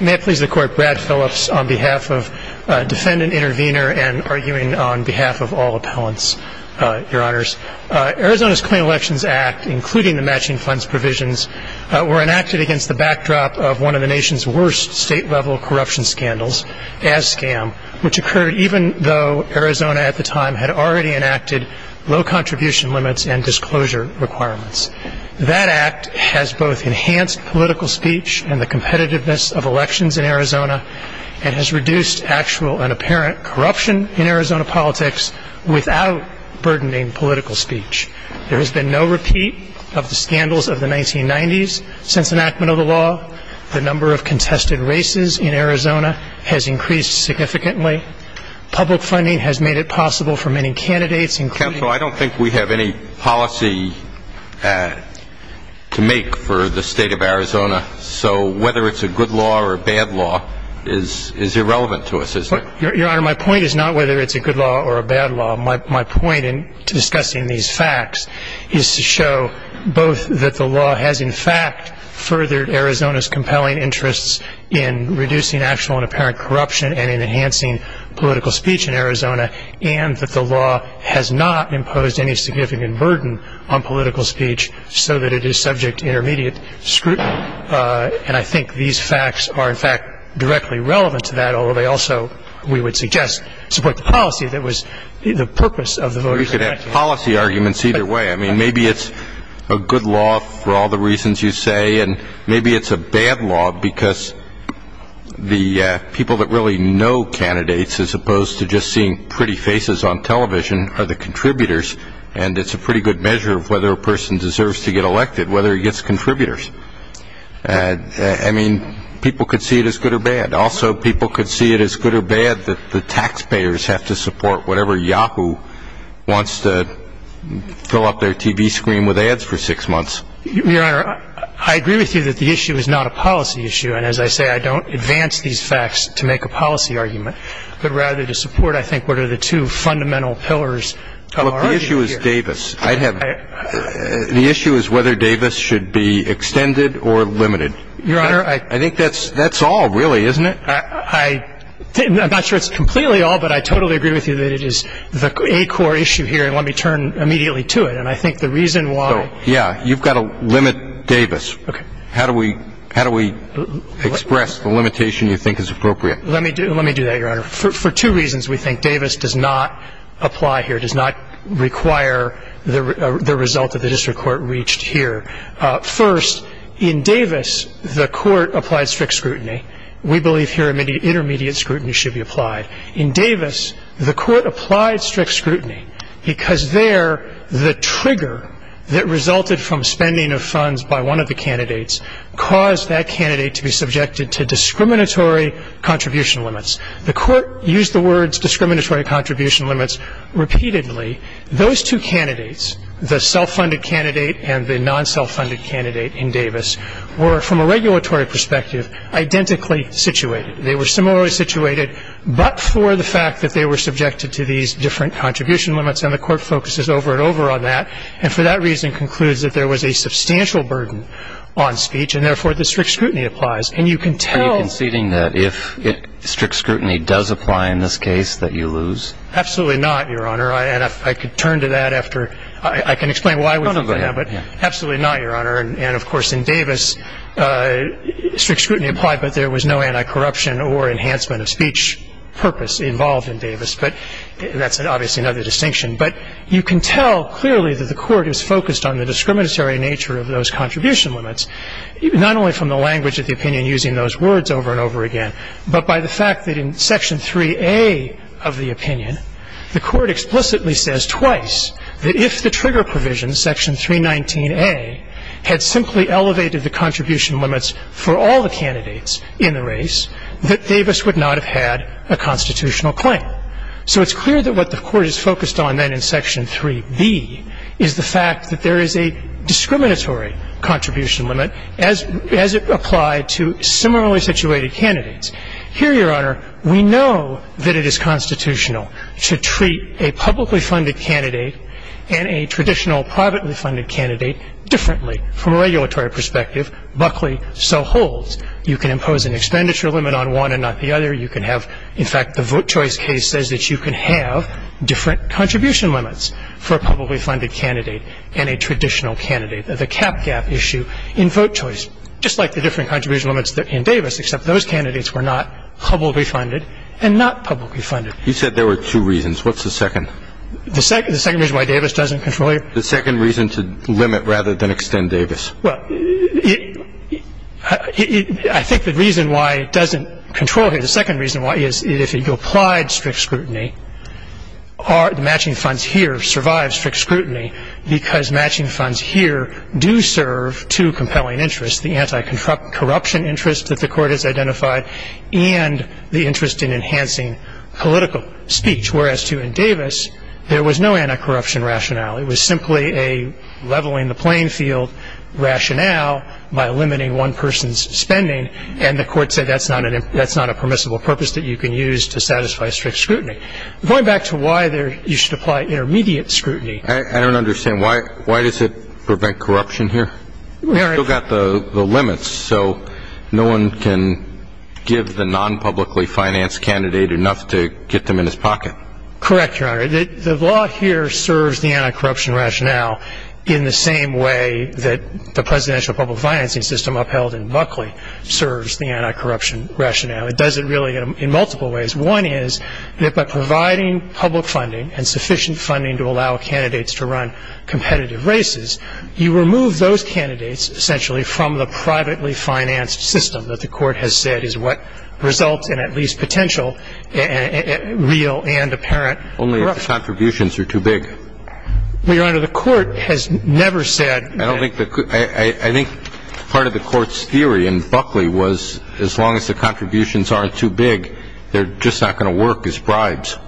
May it please the court, Brad Phillips on behalf of Defendant Intervenor and arguing on behalf of all appellants, your honors. Arizona's Clean Elections Act, including the matching funds provisions, were enacted against the backdrop of one of the nation's worst state-level corruption scandals, ASSCAM, which occurred even though Arizona at the time had already enacted low contribution limits and disclosure requirements. That act has both enhanced political speech and the competitiveness of elections in Arizona and has reduced actual and apparent corruption in Arizona politics without burdening political speech. There has been no repeat of the scandals of the 1990s since enactment of the law. The number of contested races in Arizona has increased significantly. Public funding has made it possible for many candidates, including So I don't think we have any policy to make for the state of Arizona, so whether it's a good law or a bad law is irrelevant to us, is it? Your honor, my point is not whether it's a good law or a bad law. My point in discussing these facts is to show both that the law has, in fact, furthered Arizona's compelling interests in reducing actual and apparent corruption and in enhancing political speech in Arizona, and that the law has not imposed any significant burden on political speech so that it is subject to intermediate scrutiny. And I think these facts are, in fact, directly relevant to that, although they also, we would suggest, support the policy that was the purpose of the voter's election. We could have policy arguments either way. I mean, maybe it's a good law for all the reasons you say, and maybe it's a bad law because the people that really know candidates, as opposed to just seeing pretty faces on television, are the contributors, and it's a pretty good measure of whether a person deserves to get elected, whether he gets contributors. I mean, people could see it as good or bad. Also, people could see it as good or bad that the taxpayers have to support whatever Yahoo! wants to fill up their TV screen with ads for six months. Your Honor, I agree with you that the issue is not a policy issue, and as I say, I don't advance these facts to make a policy argument, but rather to support, I think, what are the two fundamental pillars of our argument here. Look, the issue is Davis. The issue is whether Davis should be extended or limited. Your Honor, I think that's all, really, isn't it? I'm not sure it's completely all, but I totally agree with you that it is the acore issue here, and let me turn immediately to it. And I think the reason why So, yeah, you've got to limit Davis. Okay. How do we express the limitation you think is appropriate? Let me do that, Your Honor. For two reasons, we think Davis does not apply here, does not require the result that the district court reached here. First, in Davis, the court applied strict scrutiny. We believe here intermediate scrutiny should be applied. In Davis, the court applied strict scrutiny because there the trigger that resulted from spending of funds by one of the candidates caused that candidate to be subjected to discriminatory contribution limits. The court used the words discriminatory contribution limits repeatedly. Those two candidates, the self-funded candidate and the non-self-funded candidate in Davis, were, from a regulatory perspective, identically situated. They were similarly situated, but for the fact that they were subjected to these different contribution limits, and the court focuses over and over on that, and for that reason concludes that there was a substantial burden on speech, and therefore the strict scrutiny applies. And you can tell Are you conceding that if strict scrutiny does apply in this case, that you lose? Absolutely not, Your Honor. And I could turn to that after. I can explain why we think that. No, no, go ahead. Absolutely not, Your Honor. And, of course, in Davis, strict scrutiny applied, but there was no anti-corruption or enhancement of speech purpose involved in Davis, but that's obviously another distinction. But you can tell clearly that the court is focused on the discriminatory nature of those contribution limits, not only from the language of the opinion using those words over and over again, but by the fact that in Section 3A of the opinion, the court explicitly says twice that if the trigger provision, Section 319A, had simply elevated the contribution limits for all the candidates in the race, that Davis would not have had a constitutional claim. So it's clear that what the court is focused on then in Section 3B is the fact that there is a discriminatory contribution limit as it applied to similarly situated candidates. Here, Your Honor, we know that it is constitutional to treat a publicly funded candidate and a traditional privately funded candidate differently. From a regulatory perspective, Buckley so holds. You can impose an expenditure limit on one and not the other. You can have, in fact, the vote choice case says that you can have different contribution limits for a publicly funded candidate and a traditional candidate. The cap gap issue in vote choice, just like the different contribution limits in Davis, except those candidates were not publicly funded and not publicly funded. You said there were two reasons. What's the second? The second reason why Davis doesn't control you? The second reason to limit rather than extend Davis. Well, I think the reason why it doesn't control you, the second reason why is if you applied strict scrutiny, the matching funds here survive strict scrutiny because matching funds here do serve two compelling interests, the anti-corruption interest that the Court has identified and the interest in enhancing political speech. Whereas, too, in Davis, there was no anti-corruption rationale. It was simply a leveling the playing field rationale by limiting one person's spending, and the Court said that's not a permissible purpose that you can use to satisfy strict scrutiny. Going back to why you should apply intermediate scrutiny. I don't understand. Why does it prevent corruption here? We've still got the limits, so no one can give the non-publicly financed candidate enough to get them in his pocket. Correct, Your Honor. The law here serves the anti-corruption rationale in the same way that the presidential public financing system upheld in Buckley serves the anti-corruption rationale. It does it really in multiple ways. One is that by providing public funding and sufficient funding to allow candidates to run competitive races, you remove those candidates essentially from the privately financed system that the Court has said is what results in at least potential real and apparent corruption. Only if the contributions are too big. Well, Your Honor, the Court has never said that. I think part of the Court's theory in Buckley was as long as the contributions aren't too big, they're just not going to work as bribes.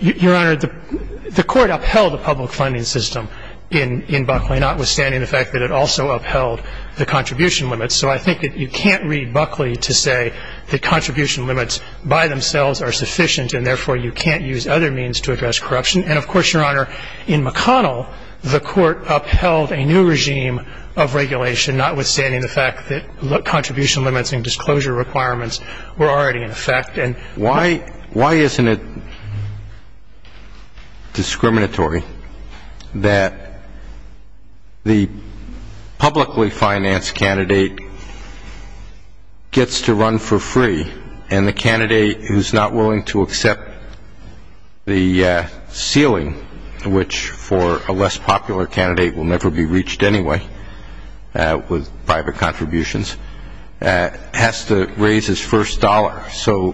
Your Honor, the Court upheld the public funding system in Buckley, notwithstanding the fact that it also upheld the contribution limits. So I think that you can't read Buckley to say that contribution limits by themselves are sufficient and therefore you can't use other means to address corruption. And, of course, Your Honor, in McConnell, the Court upheld a new regime of regulation, notwithstanding the fact that contribution limits and disclosure requirements were already in effect. Why isn't it discriminatory that the publicly financed candidate gets to run for free and the candidate who's not willing to accept the ceiling, which for a less popular candidate will never be reached anyway with private contributions, has to raise his first dollar? So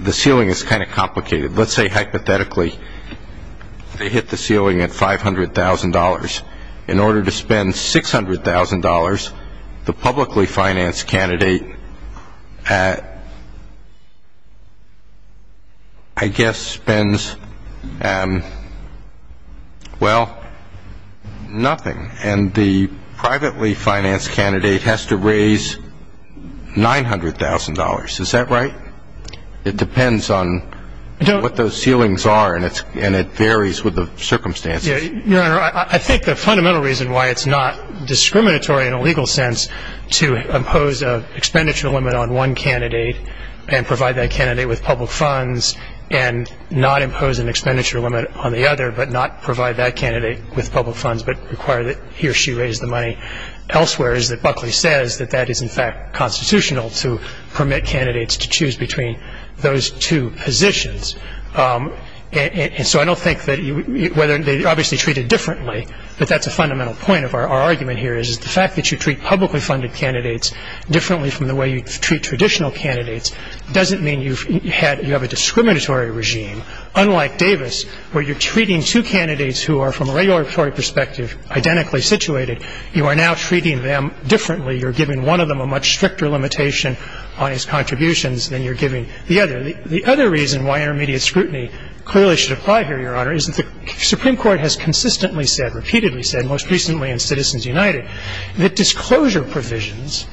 the ceiling is kind of complicated. Let's say hypothetically they hit the ceiling at $500,000. In order to spend $600,000, the publicly financed candidate, I guess, spends, well, nothing. And the privately financed candidate has to raise $900,000. Is that right? It depends on what those ceilings are, and it varies with the circumstances. Your Honor, I think the fundamental reason why it's not discriminatory in a legal sense to impose an expenditure limit on one candidate and provide that candidate with public funds and not impose an expenditure limit on the other but not provide that candidate with public funds but require that he or she raise the money elsewhere is that Buckley says that that is in fact constitutional to permit candidates to choose between those two positions. And so I don't think that whether they're obviously treated differently, but that's a fundamental point of our argument here, is the fact that you treat publicly funded candidates differently from the way you treat traditional candidates doesn't mean you have a discriminatory regime, unlike Davis, where you're treating two candidates who are, from a regulatory perspective, identically situated, you are now treating them differently. You're giving one of them a much stricter limitation on his contributions than you're giving the other. The other reason why intermediate scrutiny clearly should apply here, Your Honor, is that the Supreme Court has consistently said, repeatedly said, most recently in Citizens United, that disclosure provisions,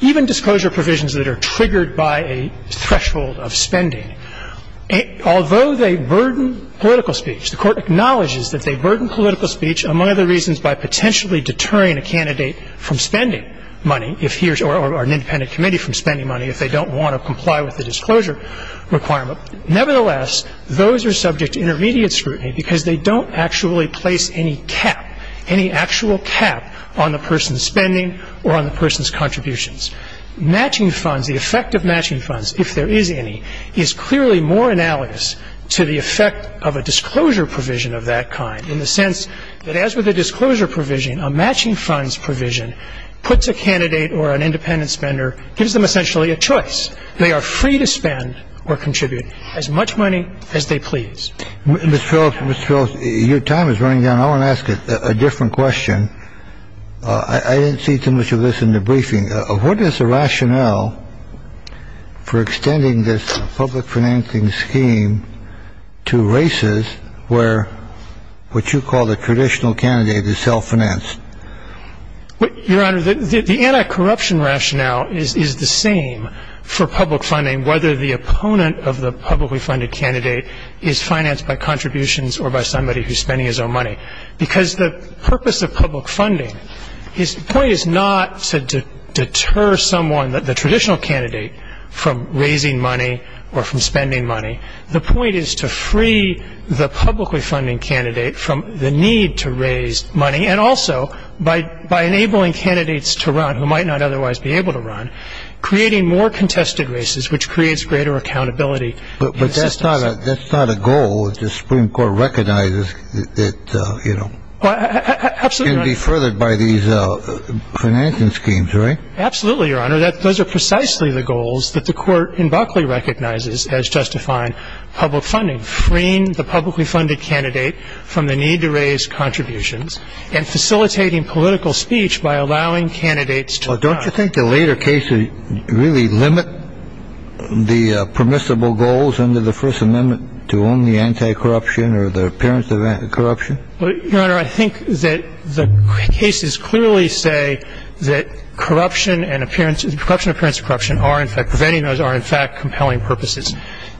even disclosure provisions that are triggered by a threshold of spending, although they burden political speech, the Court acknowledges that they burden political speech, among other reasons, by potentially deterring a candidate from spending money, or an independent committee from spending money, if they don't want to comply with the disclosure requirement. Nevertheless, those are subject to intermediate scrutiny because they don't actually place any cap, any actual cap, on the person's spending or on the person's contributions. Matching funds, the effect of matching funds, if there is any, is clearly more analogous to the effect of a disclosure provision of that kind, in the sense that as with a disclosure provision, a matching funds provision puts a candidate or an independent spender, gives them essentially a choice. They are free to spend or contribute as much money as they please. Mr. Phillips, Mr. Phillips, your time is running down. I want to ask a different question. I didn't see too much of this in the briefing. What is the rationale for extending this public financing scheme to races where what you call the traditional candidate is self-financed? Your Honor, the anti-corruption rationale is the same for public funding, whether the opponent of the publicly funded candidate is financed by contributions or by somebody who is spending his own money. Because the purpose of public funding, the point is not to deter someone, the traditional candidate, from raising money or from spending money. The point is to free the publicly funding candidate from the need to raise money and also by enabling candidates to run who might not otherwise be able to run, creating more contested races which creates greater accountability. But that's not a goal. The Supreme Court recognizes that it can be furthered by these financing schemes, right? Absolutely, Your Honor. Those are precisely the goals that the court in Buckley recognizes as justifying public funding, freeing the publicly funded candidate from the need to raise contributions and facilitating political speech by allowing candidates to run. Don't you think the later cases really limit the permissible goals under the First Amendment to only anti-corruption or the appearance of anti-corruption? Your Honor, I think that the cases clearly say that corruption and appearance of corruption are in fact compelling purposes.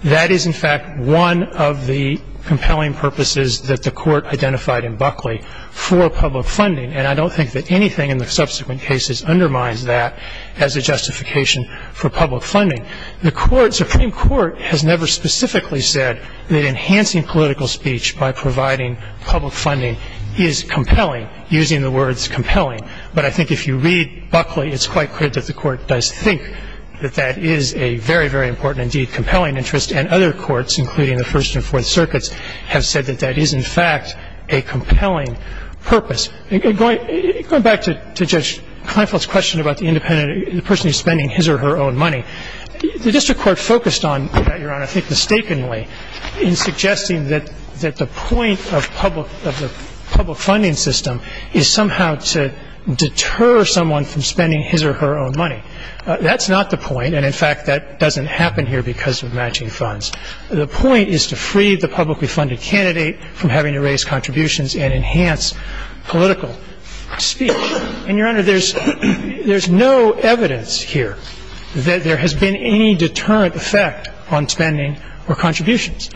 That is in fact one of the compelling purposes that the court identified in Buckley for public funding. And I don't think that anything in the subsequent cases undermines that as a justification for public funding. The Supreme Court has never specifically said that enhancing political speech by providing public funding is compelling, using the words compelling. But I think if you read Buckley, it's quite clear that the court does think that that is a very, very important and indeed compelling interest. And other courts, including the First and Fourth Circuits, have said that that is in fact a compelling purpose. And going back to Judge Kleinfeld's question about the person who is spending his or her own money, the district court focused on that, Your Honor, I think mistakenly in suggesting that the point of public funding system is somehow to deter someone from spending his or her own money. That's not the point. And in fact, that doesn't happen here because of matching funds. The point is to free the publicly funded candidate from having to raise contributions and enhance political speech. And, Your Honor, there's no evidence here that there has been any deterrent effect on spending or contributions.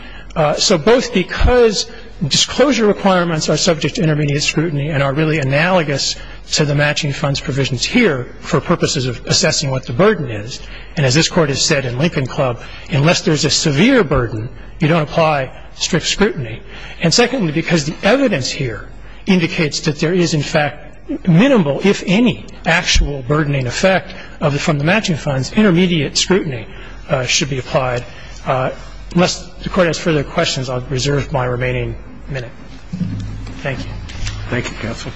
So both because disclosure requirements are subject to intermediate scrutiny and are really analogous to the matching funds provisions here for purposes of assessing what the burden is, and as this Court has said in Lincoln Club, unless there's a severe burden, you don't apply strict scrutiny. And secondly, because the evidence here indicates that there is in fact minimal if any actual burdening effect from the matching funds, intermediate scrutiny should be applied. Unless the Court has further questions, I'll reserve my remaining minute. Thank you. Thank you, Counsel.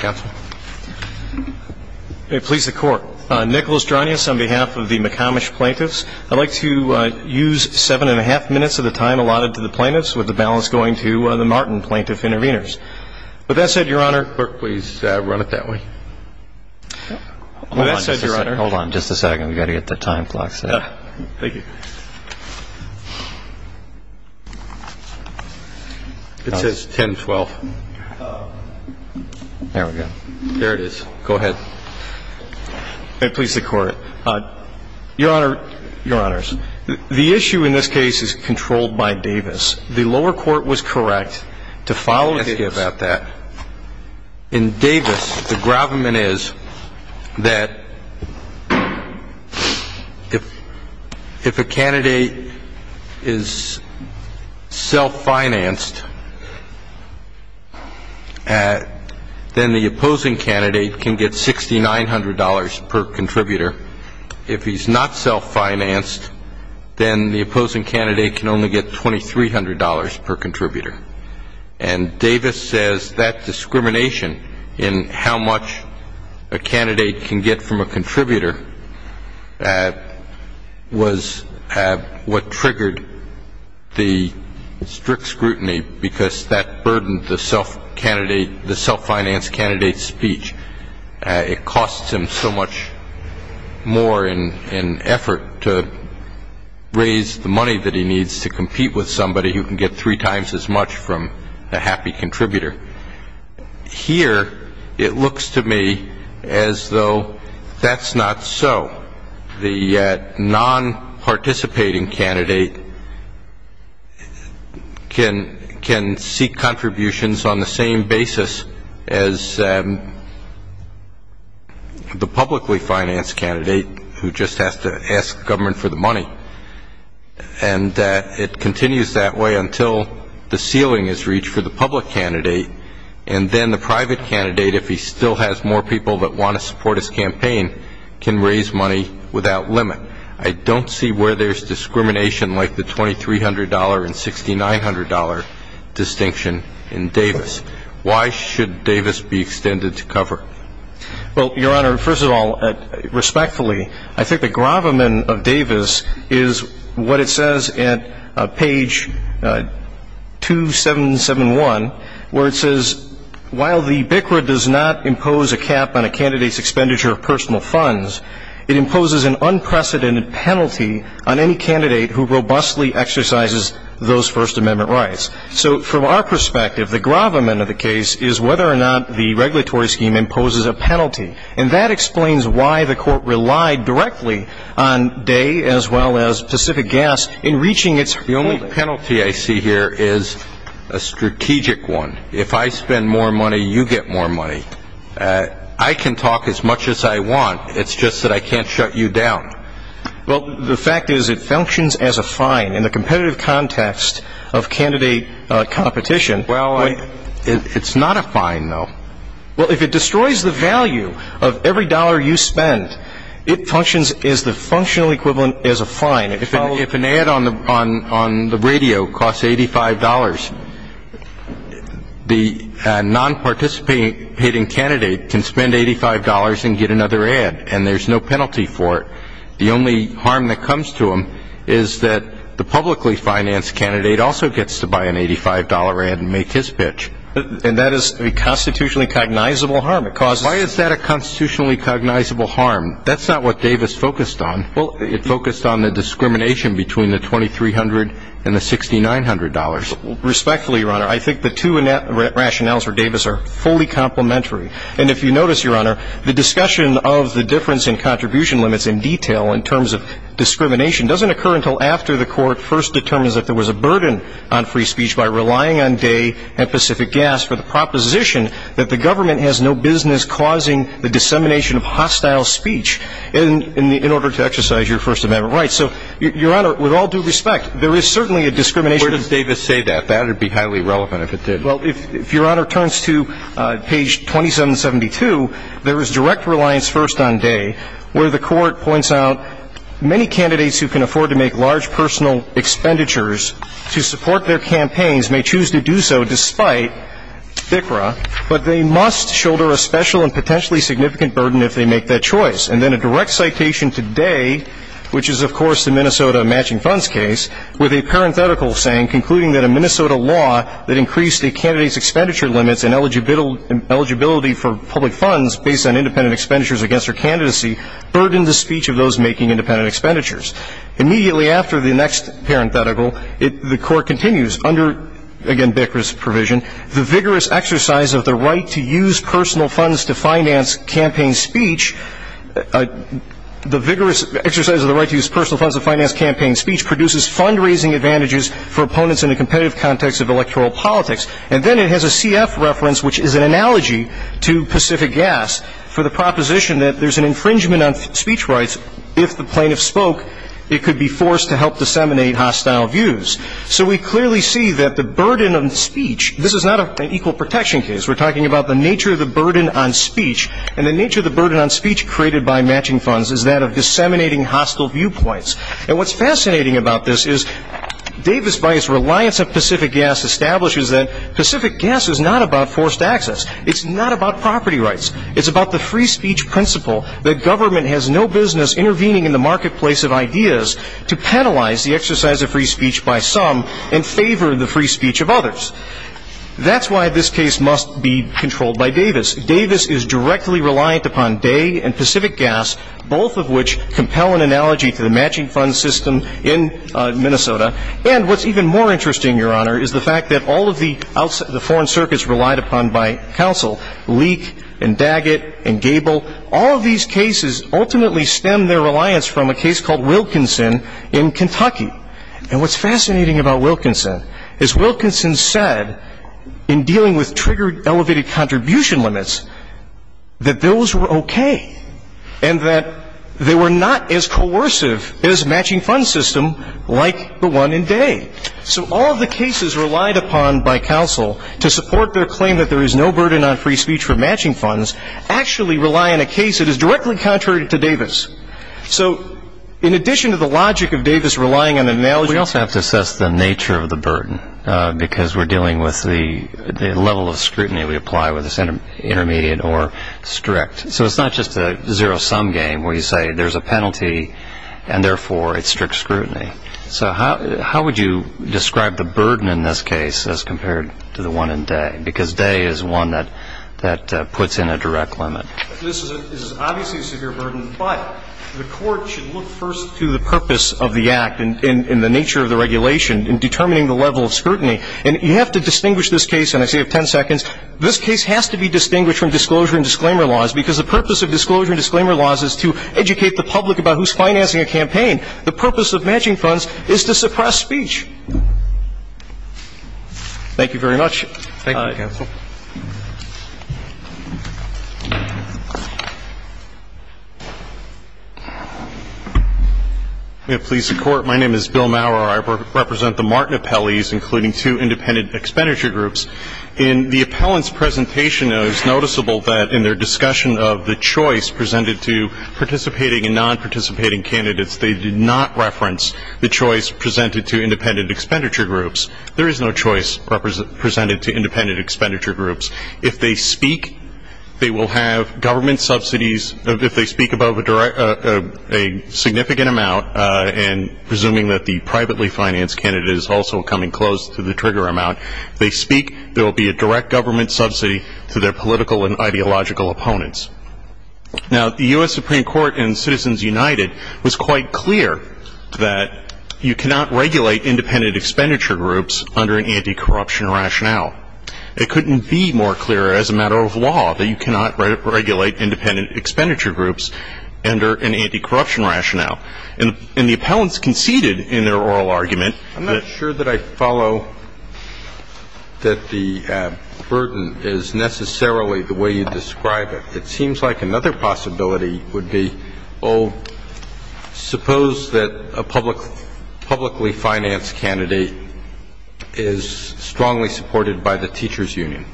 Counsel. May it please the Court. Nicholas Dronius on behalf of the McComish plaintiffs. I'd like to use seven and a half minutes of the time allotted to the plaintiffs with the balance going to the Martin plaintiff intervenors. With that said, Your Honor. Clerk, please run it that way. With that said, Your Honor. Hold on just a second. We've got to get the time clock set. Thank you. It says 10-12. There we go. There it is. Go ahead. May it please the Court. Your Honor, Your Honors, the issue in this case is controlled by Davis. The lower court was correct to follow Davis. Let's get back to that. In Davis, the gravamen is that if a candidate is self-financed, then the opposing candidate can get $6,900 per contributor. If he's not self-financed, then the opposing candidate can only get $2,300 per contributor. And Davis says that discrimination in how much a candidate can get from a contributor was what triggered the strict scrutiny because that burdened the self-financed candidate's speech. It costs him so much more in effort to raise the money that he needs to compete with somebody who can get three times as much from a happy contributor. Here it looks to me as though that's not so. The non-participating candidate can seek contributions on the same basis as the publicly financed candidate who just has to ask government for the money. And it continues that way until the ceiling is reached for the public candidate, and then the private candidate, if he still has more people that want to support his campaign, can raise money without limit. I don't see where there's discrimination like the $2,300 and $6,900 distinction in Davis. Why should Davis be extended to cover? Well, Your Honor, first of all, respectfully, I think the gravamen of Davis is what it says at page 2771 where it says, while the BCRA does not impose a cap on a candidate's expenditure of personal funds, it imposes an unprecedented penalty on any candidate who robustly exercises those First Amendment rights. So from our perspective, the gravamen of the case is whether or not the regulatory scheme imposes a penalty. And that explains why the court relied directly on day as well as Pacific Gas in reaching its goal. The only penalty I see here is a strategic one. If I spend more money, you get more money. I can talk as much as I want. It's just that I can't shut you down. Well, the fact is it functions as a fine in the competitive context of candidate competition. Well, it's not a fine, though. Well, if it destroys the value of every dollar you spend, it functions as the functional equivalent as a fine. If an ad on the radio costs $85, the non-participating candidate can spend $85 and get another ad, and there's no penalty for it. The only harm that comes to them is that the publicly financed candidate also gets to buy an $85 ad and make his pitch. And that is a constitutionally cognizable harm. Why is that a constitutionally cognizable harm? That's not what Davis focused on. It focused on the discrimination between the $2,300 and the $6,900. Respectfully, Your Honor, I think the two rationales for Davis are fully complementary. And if you notice, Your Honor, the discussion of the difference in contribution limits in detail in terms of discrimination doesn't occur until after the Court first determines that there was a burden on free speech by relying on Day and Pacific Gas for the proposition that the government has no business causing the dissemination of hostile speech in order to exercise your First Amendment rights. So, Your Honor, with all due respect, there is certainly a discrimination. Where does Davis say that? That would be highly relevant if it did. Well, if Your Honor turns to page 2772, there is direct reliance first on Day, where the Court points out many candidates who can afford to make large personal expenditures to support their campaigns may choose to do so despite FCRA, but they must shoulder a special and potentially significant burden if they make that choice. And then a direct citation to Day, which is, of course, the Minnesota matching funds case, with a parenthetical saying concluding that a Minnesota law that increased a candidate's expenditure limits and eligibility for public funds based on independent expenditures against her candidacy burdened the speech of those making independent expenditures. Immediately after the next parenthetical, the Court continues under, again, Bikra's provision, the vigorous exercise of the right to use personal funds to finance campaign speech. The vigorous exercise of the right to use personal funds to finance campaign speech produces fundraising advantages for opponents in a competitive context of electoral politics. And then it has a CF reference, which is an analogy to Pacific Gas, for the proposition that there's an infringement on speech rights if the plaintiff spoke, it could be forced to help disseminate hostile views. So we clearly see that the burden on speech, this is not an equal protection case. We're talking about the nature of the burden on speech, and the nature of the burden on speech created by matching funds is that of disseminating hostile viewpoints. And what's fascinating about this is Davis-Weiss's reliance on Pacific Gas establishes that Pacific Gas is not about forced access. It's not about property rights. It's about the free speech principle that government has no business intervening in the marketplace of ideas to penalize the exercise of free speech by some and favor the free speech of others. That's why this case must be controlled by Davis. Davis is directly reliant upon Day and Pacific Gas, both of which compel an analogy to the matching fund system in Minnesota. And what's even more interesting, Your Honor, is the fact that all of the foreign circuits relied upon by counsel, Leak and Daggett and Gable, all of these cases ultimately stem their reliance from a case called Wilkinson in Kentucky. And what's fascinating about Wilkinson is Wilkinson said, in dealing with triggered elevated contribution limits, that those were okay. And that they were not as coercive as matching fund system like the one in Day. So all of the cases relied upon by counsel to support their claim that there is no burden on free speech for matching funds actually rely on a case that is directly contrary to Davis. So in addition to the logic of Davis relying on an analogy. We also have to assess the nature of the burden, because we're dealing with the level of scrutiny we apply whether it's intermediate or strict. So it's not just a zero-sum game where you say there's a penalty and therefore it's strict scrutiny. So how would you describe the burden in this case as compared to the one in Day? Because Day is one that puts in a direct limit. This is obviously a severe burden, but the court should look first to the purpose of the act and the nature of the regulation in determining the level of scrutiny. And you have to distinguish this case, and I say you have ten seconds. This case has to be distinguished from disclosure and disclaimer laws, because the purpose of disclosure and disclaimer laws is to educate the public about who's financing a campaign. The purpose of matching funds is to suppress speech. Thank you very much. Thank you, counsel. May it please the Court. My name is Bill Maurer. I represent the Martin Appellees, including two independent expenditure groups. In the appellant's presentation, it was noticeable that in their discussion of the choice presented to participating and non-participating candidates, they did not reference the choice presented to independent expenditure groups. There is no choice presented to independent expenditure groups. If they speak, they will have government subsidies. If they speak above a significant amount, and presuming that the privately financed candidate is also coming close to the trigger amount, if they speak, there will be a direct government subsidy to their political and ideological opponents. Now, the U.S. Supreme Court in Citizens United was quite clear that you cannot regulate independent expenditure groups under an anti-corruption rationale. It couldn't be more clear as a matter of law that you cannot regulate independent expenditure groups under an anti-corruption rationale. And the appellants conceded in their oral argument that I'm not sure that I follow that the burden is necessarily the way you describe it. It seems like another possibility would be, oh, suppose that a publicly financed candidate is strongly supported by the teachers' union.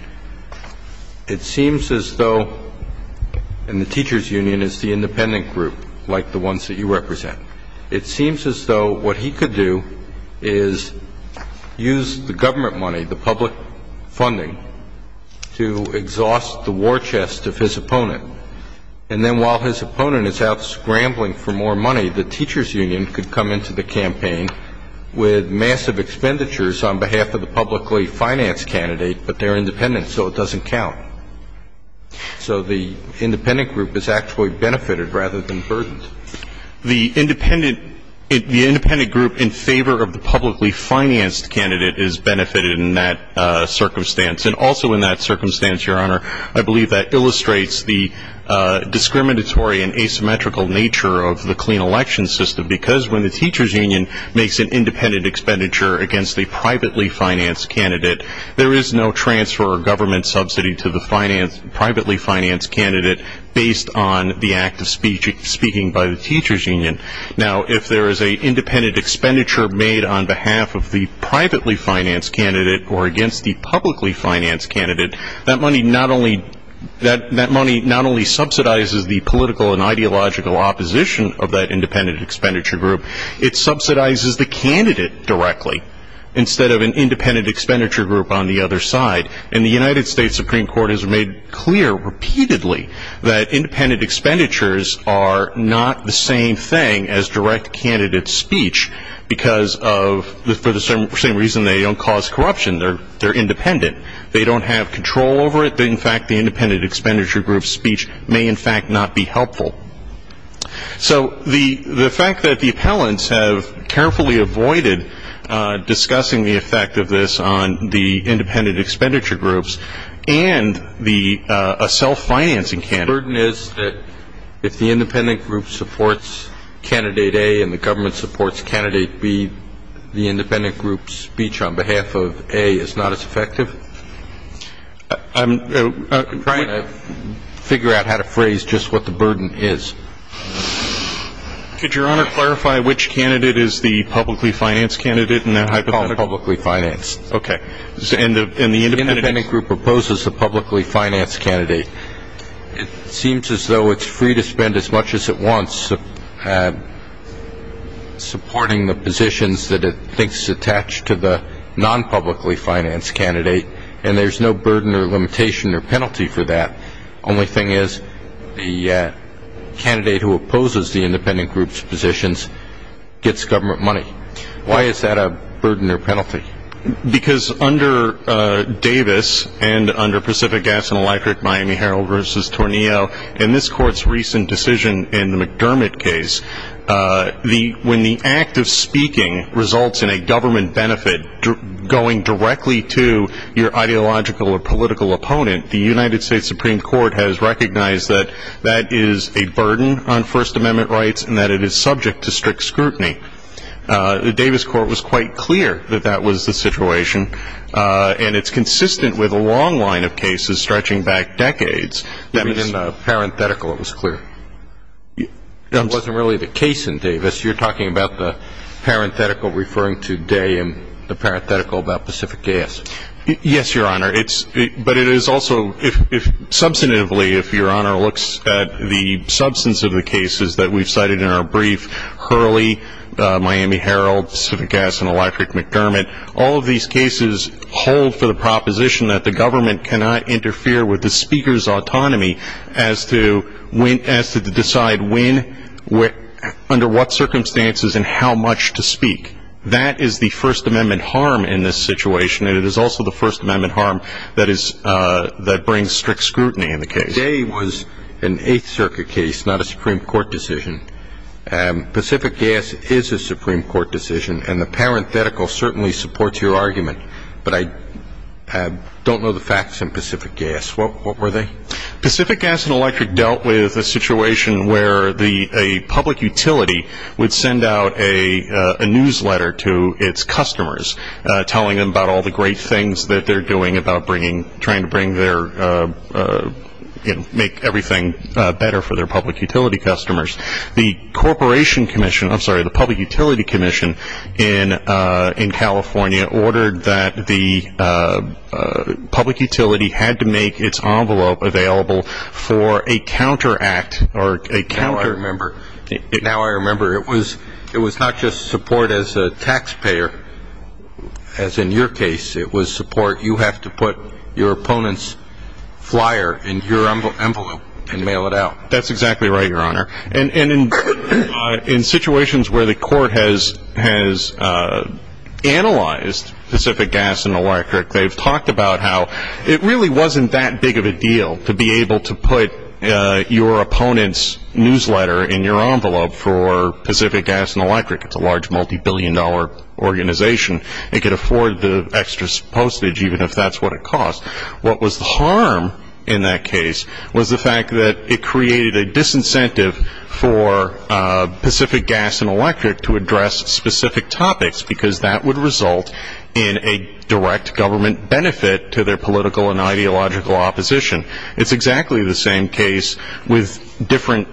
It seems as though, and the teachers' union is the independent group, like the ones that you represent. It seems as though what he could do is use the government money, the public funding, to exhaust the war chest of his opponent. And then while his opponent is out scrambling for more money, the teachers' union could come into the campaign with massive expenditures on behalf of the publicly financed candidate, but they're independent, so it doesn't count. So the independent group is actually benefited rather than burdened. The independent group in favor of the publicly financed candidate is benefited in that circumstance. And also in that circumstance, Your Honor, I believe that illustrates the discriminatory and asymmetrical nature of the clean election system, because when the teachers' union makes an independent expenditure against a privately financed candidate, there is no transfer of government subsidy to the privately financed candidate based on the act of speaking by the teachers' union. Now, if there is an independent expenditure made on behalf of the privately financed candidate or against the publicly financed candidate, that money not only subsidizes the political and ideological opposition of that independent expenditure group, it subsidizes the candidate directly instead of an independent expenditure group on the other side. And the United States Supreme Court has made clear repeatedly that independent expenditures are not the same thing as direct candidate speech because of the same reason they don't cause corruption. They're independent. They don't have control over it. In fact, the independent expenditure group's speech may, in fact, not be helpful. So the fact that the appellants have carefully avoided discussing the effect of this on the independent expenditure groups and a self-financing candidate. The burden is that if the independent group supports Candidate A and the government supports Candidate B, the independent group's speech on behalf of A is not as effective? I'm trying to figure out how to phrase just what the burden is. Could Your Honor clarify which candidate is the publicly financed candidate in that hypothetical? I call them publicly financed. Okay. And the independent group proposes the publicly financed candidate. It seems as though it's free to spend as much as it wants supporting the positions that it thinks attach to the non-publicly financed candidate and there's no burden or limitation or penalty for that. The only thing is the candidate who opposes the independent group's positions gets government money. Why is that a burden or penalty? Because under Davis and under Pacific Gas and Electric, Miami Herald versus Tornillo, in this Court's recent decision in the McDermott case, when the act of speaking results in a government benefit going directly to your ideological or political opponent, the United States Supreme Court has recognized that that is a burden on First Amendment rights and that it is subject to strict scrutiny. The Davis Court was quite clear that that was the situation, and it's consistent with a long line of cases stretching back decades. In parenthetical it was clear. It wasn't really the case in Davis. You're talking about the parenthetical referring to Day and the parenthetical about Pacific Gas. Yes, Your Honor. But it is also, substantively, if Your Honor looks at the substance of the cases that we've cited in our brief, Hurley, Miami Herald, Pacific Gas and Electric, McDermott, all of these cases hold for the proposition that the government cannot interfere with the speaker's autonomy as to decide under what circumstances and how much to speak. That is the First Amendment harm in this situation, and it is also the First Amendment harm that brings strict scrutiny in the case. Day was an Eighth Circuit case, not a Supreme Court decision. Pacific Gas is a Supreme Court decision, and the parenthetical certainly supports your argument, but I don't know the facts in Pacific Gas. What were they? Pacific Gas and Electric dealt with a situation where a public utility would send out a newsletter to its customers telling them about all the great things that they're doing about trying to make everything better for their public utility customers. The Public Utility Commission in California ordered that the public utility had to make its envelope available for a counteract or a counter- Now I remember. Now I remember. It was not just support as a taxpayer, as in your case. It was support. You have to put your opponent's flyer in your envelope and mail it out. That's exactly right, Your Honor. And in situations where the court has analyzed Pacific Gas and Electric, they've talked about how it really wasn't that big of a deal to be able to put your opponent's newsletter in your envelope for Pacific Gas and Electric. It's a large, multibillion-dollar organization. It could afford the extra postage, even if that's what it costs. What was the harm in that case was the fact that it created a disincentive for Pacific Gas and Electric to address specific topics, because that would result in a direct government benefit to their political and ideological opposition. It's exactly the same case with different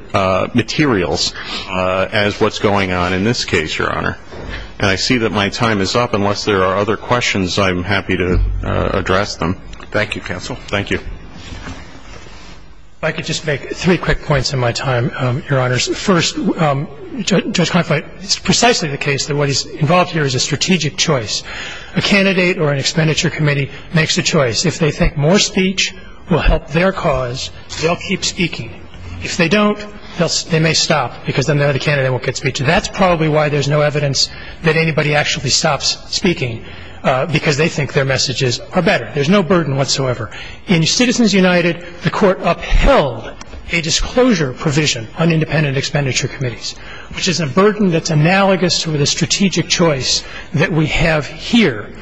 materials as what's going on in this case, Your Honor. And I see that my time is up. Unless there are other questions, I'm happy to address them. Thank you, counsel. Thank you. If I could just make three quick points in my time, Your Honors. First, Judge Kleinfeld, it's precisely the case that what is involved here is a strategic choice. A candidate or an expenditure committee makes a choice. If they think more speech will help their cause, they'll keep speaking. If they don't, they may stop, because then the other candidate won't get speech. That's probably why there's no evidence that anybody actually stops speaking, because they think their messages are better. There's no burden whatsoever. In Citizens United, the Court upheld a disclosure provision on independent expenditure committees, which is a burden that's analogous to the strategic choice that we have here.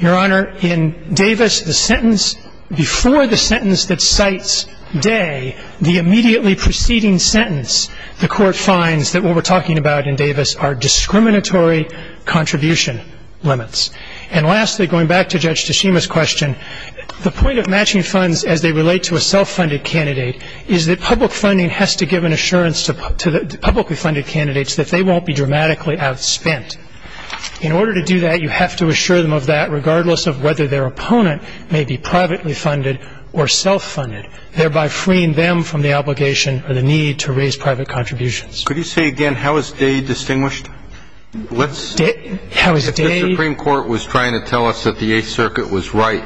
Your Honor, in Davis, the sentence before the sentence that cites Day, the immediately preceding sentence, the Court finds that what we're talking about in Davis are discriminatory contribution limits. And lastly, going back to Judge Teshima's question, the point of matching funds as they relate to a self-funded candidate is that public funding has to give an assurance to publicly funded candidates that they won't be dramatically outspent. In order to do that, you have to assure them of that, regardless of whether their opponent may be privately funded or self-funded, thereby freeing them from the obligation or the need to raise private contributions. Could you say again how is Day distinguished? The Supreme Court was trying to tell us that the Eighth Circuit was right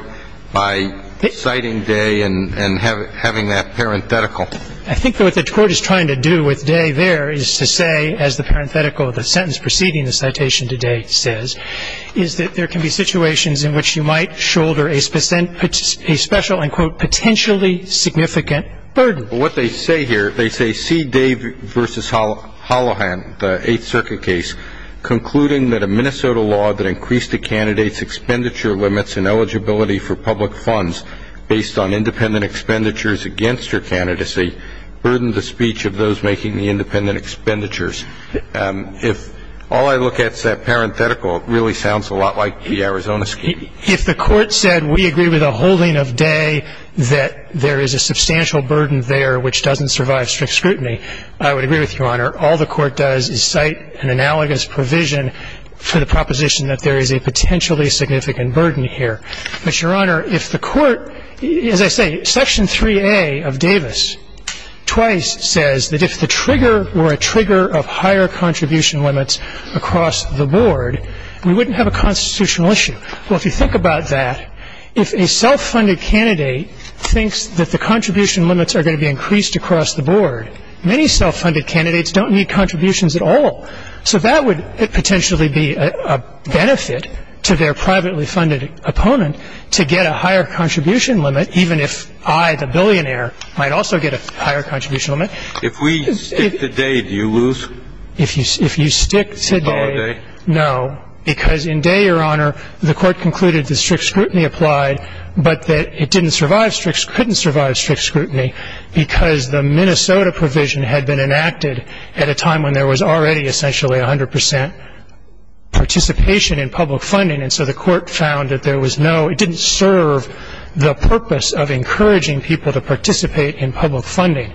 by citing Day and having that parenthetical. I think what the Court is trying to do with Day there is to say, as the parenthetical of the sentence preceding the citation to Day says, is that there can be situations in which you might shoulder a special and, quote, potentially significant burden. Well, what they say here, they say, see Day v. Holohan, the Eighth Circuit case, concluding that a Minnesota law that increased a candidate's expenditure limits and eligibility for public funds based on independent expenditures against her candidacy burdened the speech of those making the independent expenditures. If all I look at is that parenthetical, it really sounds a lot like the Arizona scheme. If the Court said we agree with a holding of Day, that there is a substantial burden there which doesn't survive strict scrutiny, I would agree with Your Honor. All the Court does is cite an analogous provision for the proposition that there is a potentially significant burden here. But, Your Honor, if the Court, as I say, Section 3A of Davis twice says that if the trigger were a trigger of higher contribution limits across the board, we wouldn't have a constitutional issue. Well, if you think about that, if a self-funded candidate thinks that the contribution limits are going to be increased across the board, many self-funded candidates don't need contributions at all. So that would potentially be a benefit to their privately funded opponent to get a higher contribution limit, even if I, the billionaire, might also get a higher contribution limit. If we stick to Day, do you lose? If you stick to Day, no. Because in Day, Your Honor, the Court concluded that strict scrutiny applied, but that it didn't survive strict, couldn't survive strict scrutiny, because the Minnesota provision had been enacted at a time when there was already essentially 100 percent participation in public funding. And so the Court found that there was no, it didn't serve the purpose of encouraging people to participate in public funding.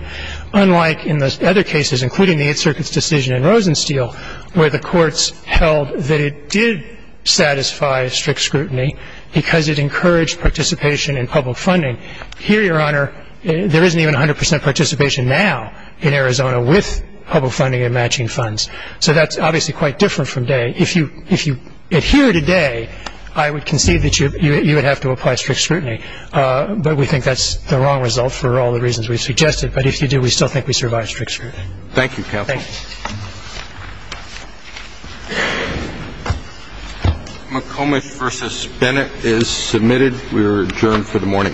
Unlike in the other cases, including the Eighth Circuit's decision in Rosensteil, where the courts held that it did satisfy strict scrutiny because it encouraged participation in public funding, here, Your Honor, there isn't even 100 percent participation now in Arizona with public funding and matching funds. So that's obviously quite different from Day. If you adhere to Day, I would concede that you would have to apply strict scrutiny. But we think that's the wrong result for all the reasons we've suggested. But if you do, we still think we survive strict scrutiny. Thank you, Counsel. Thanks. McComish v. Bennett is submitted. We are adjourned for the morning.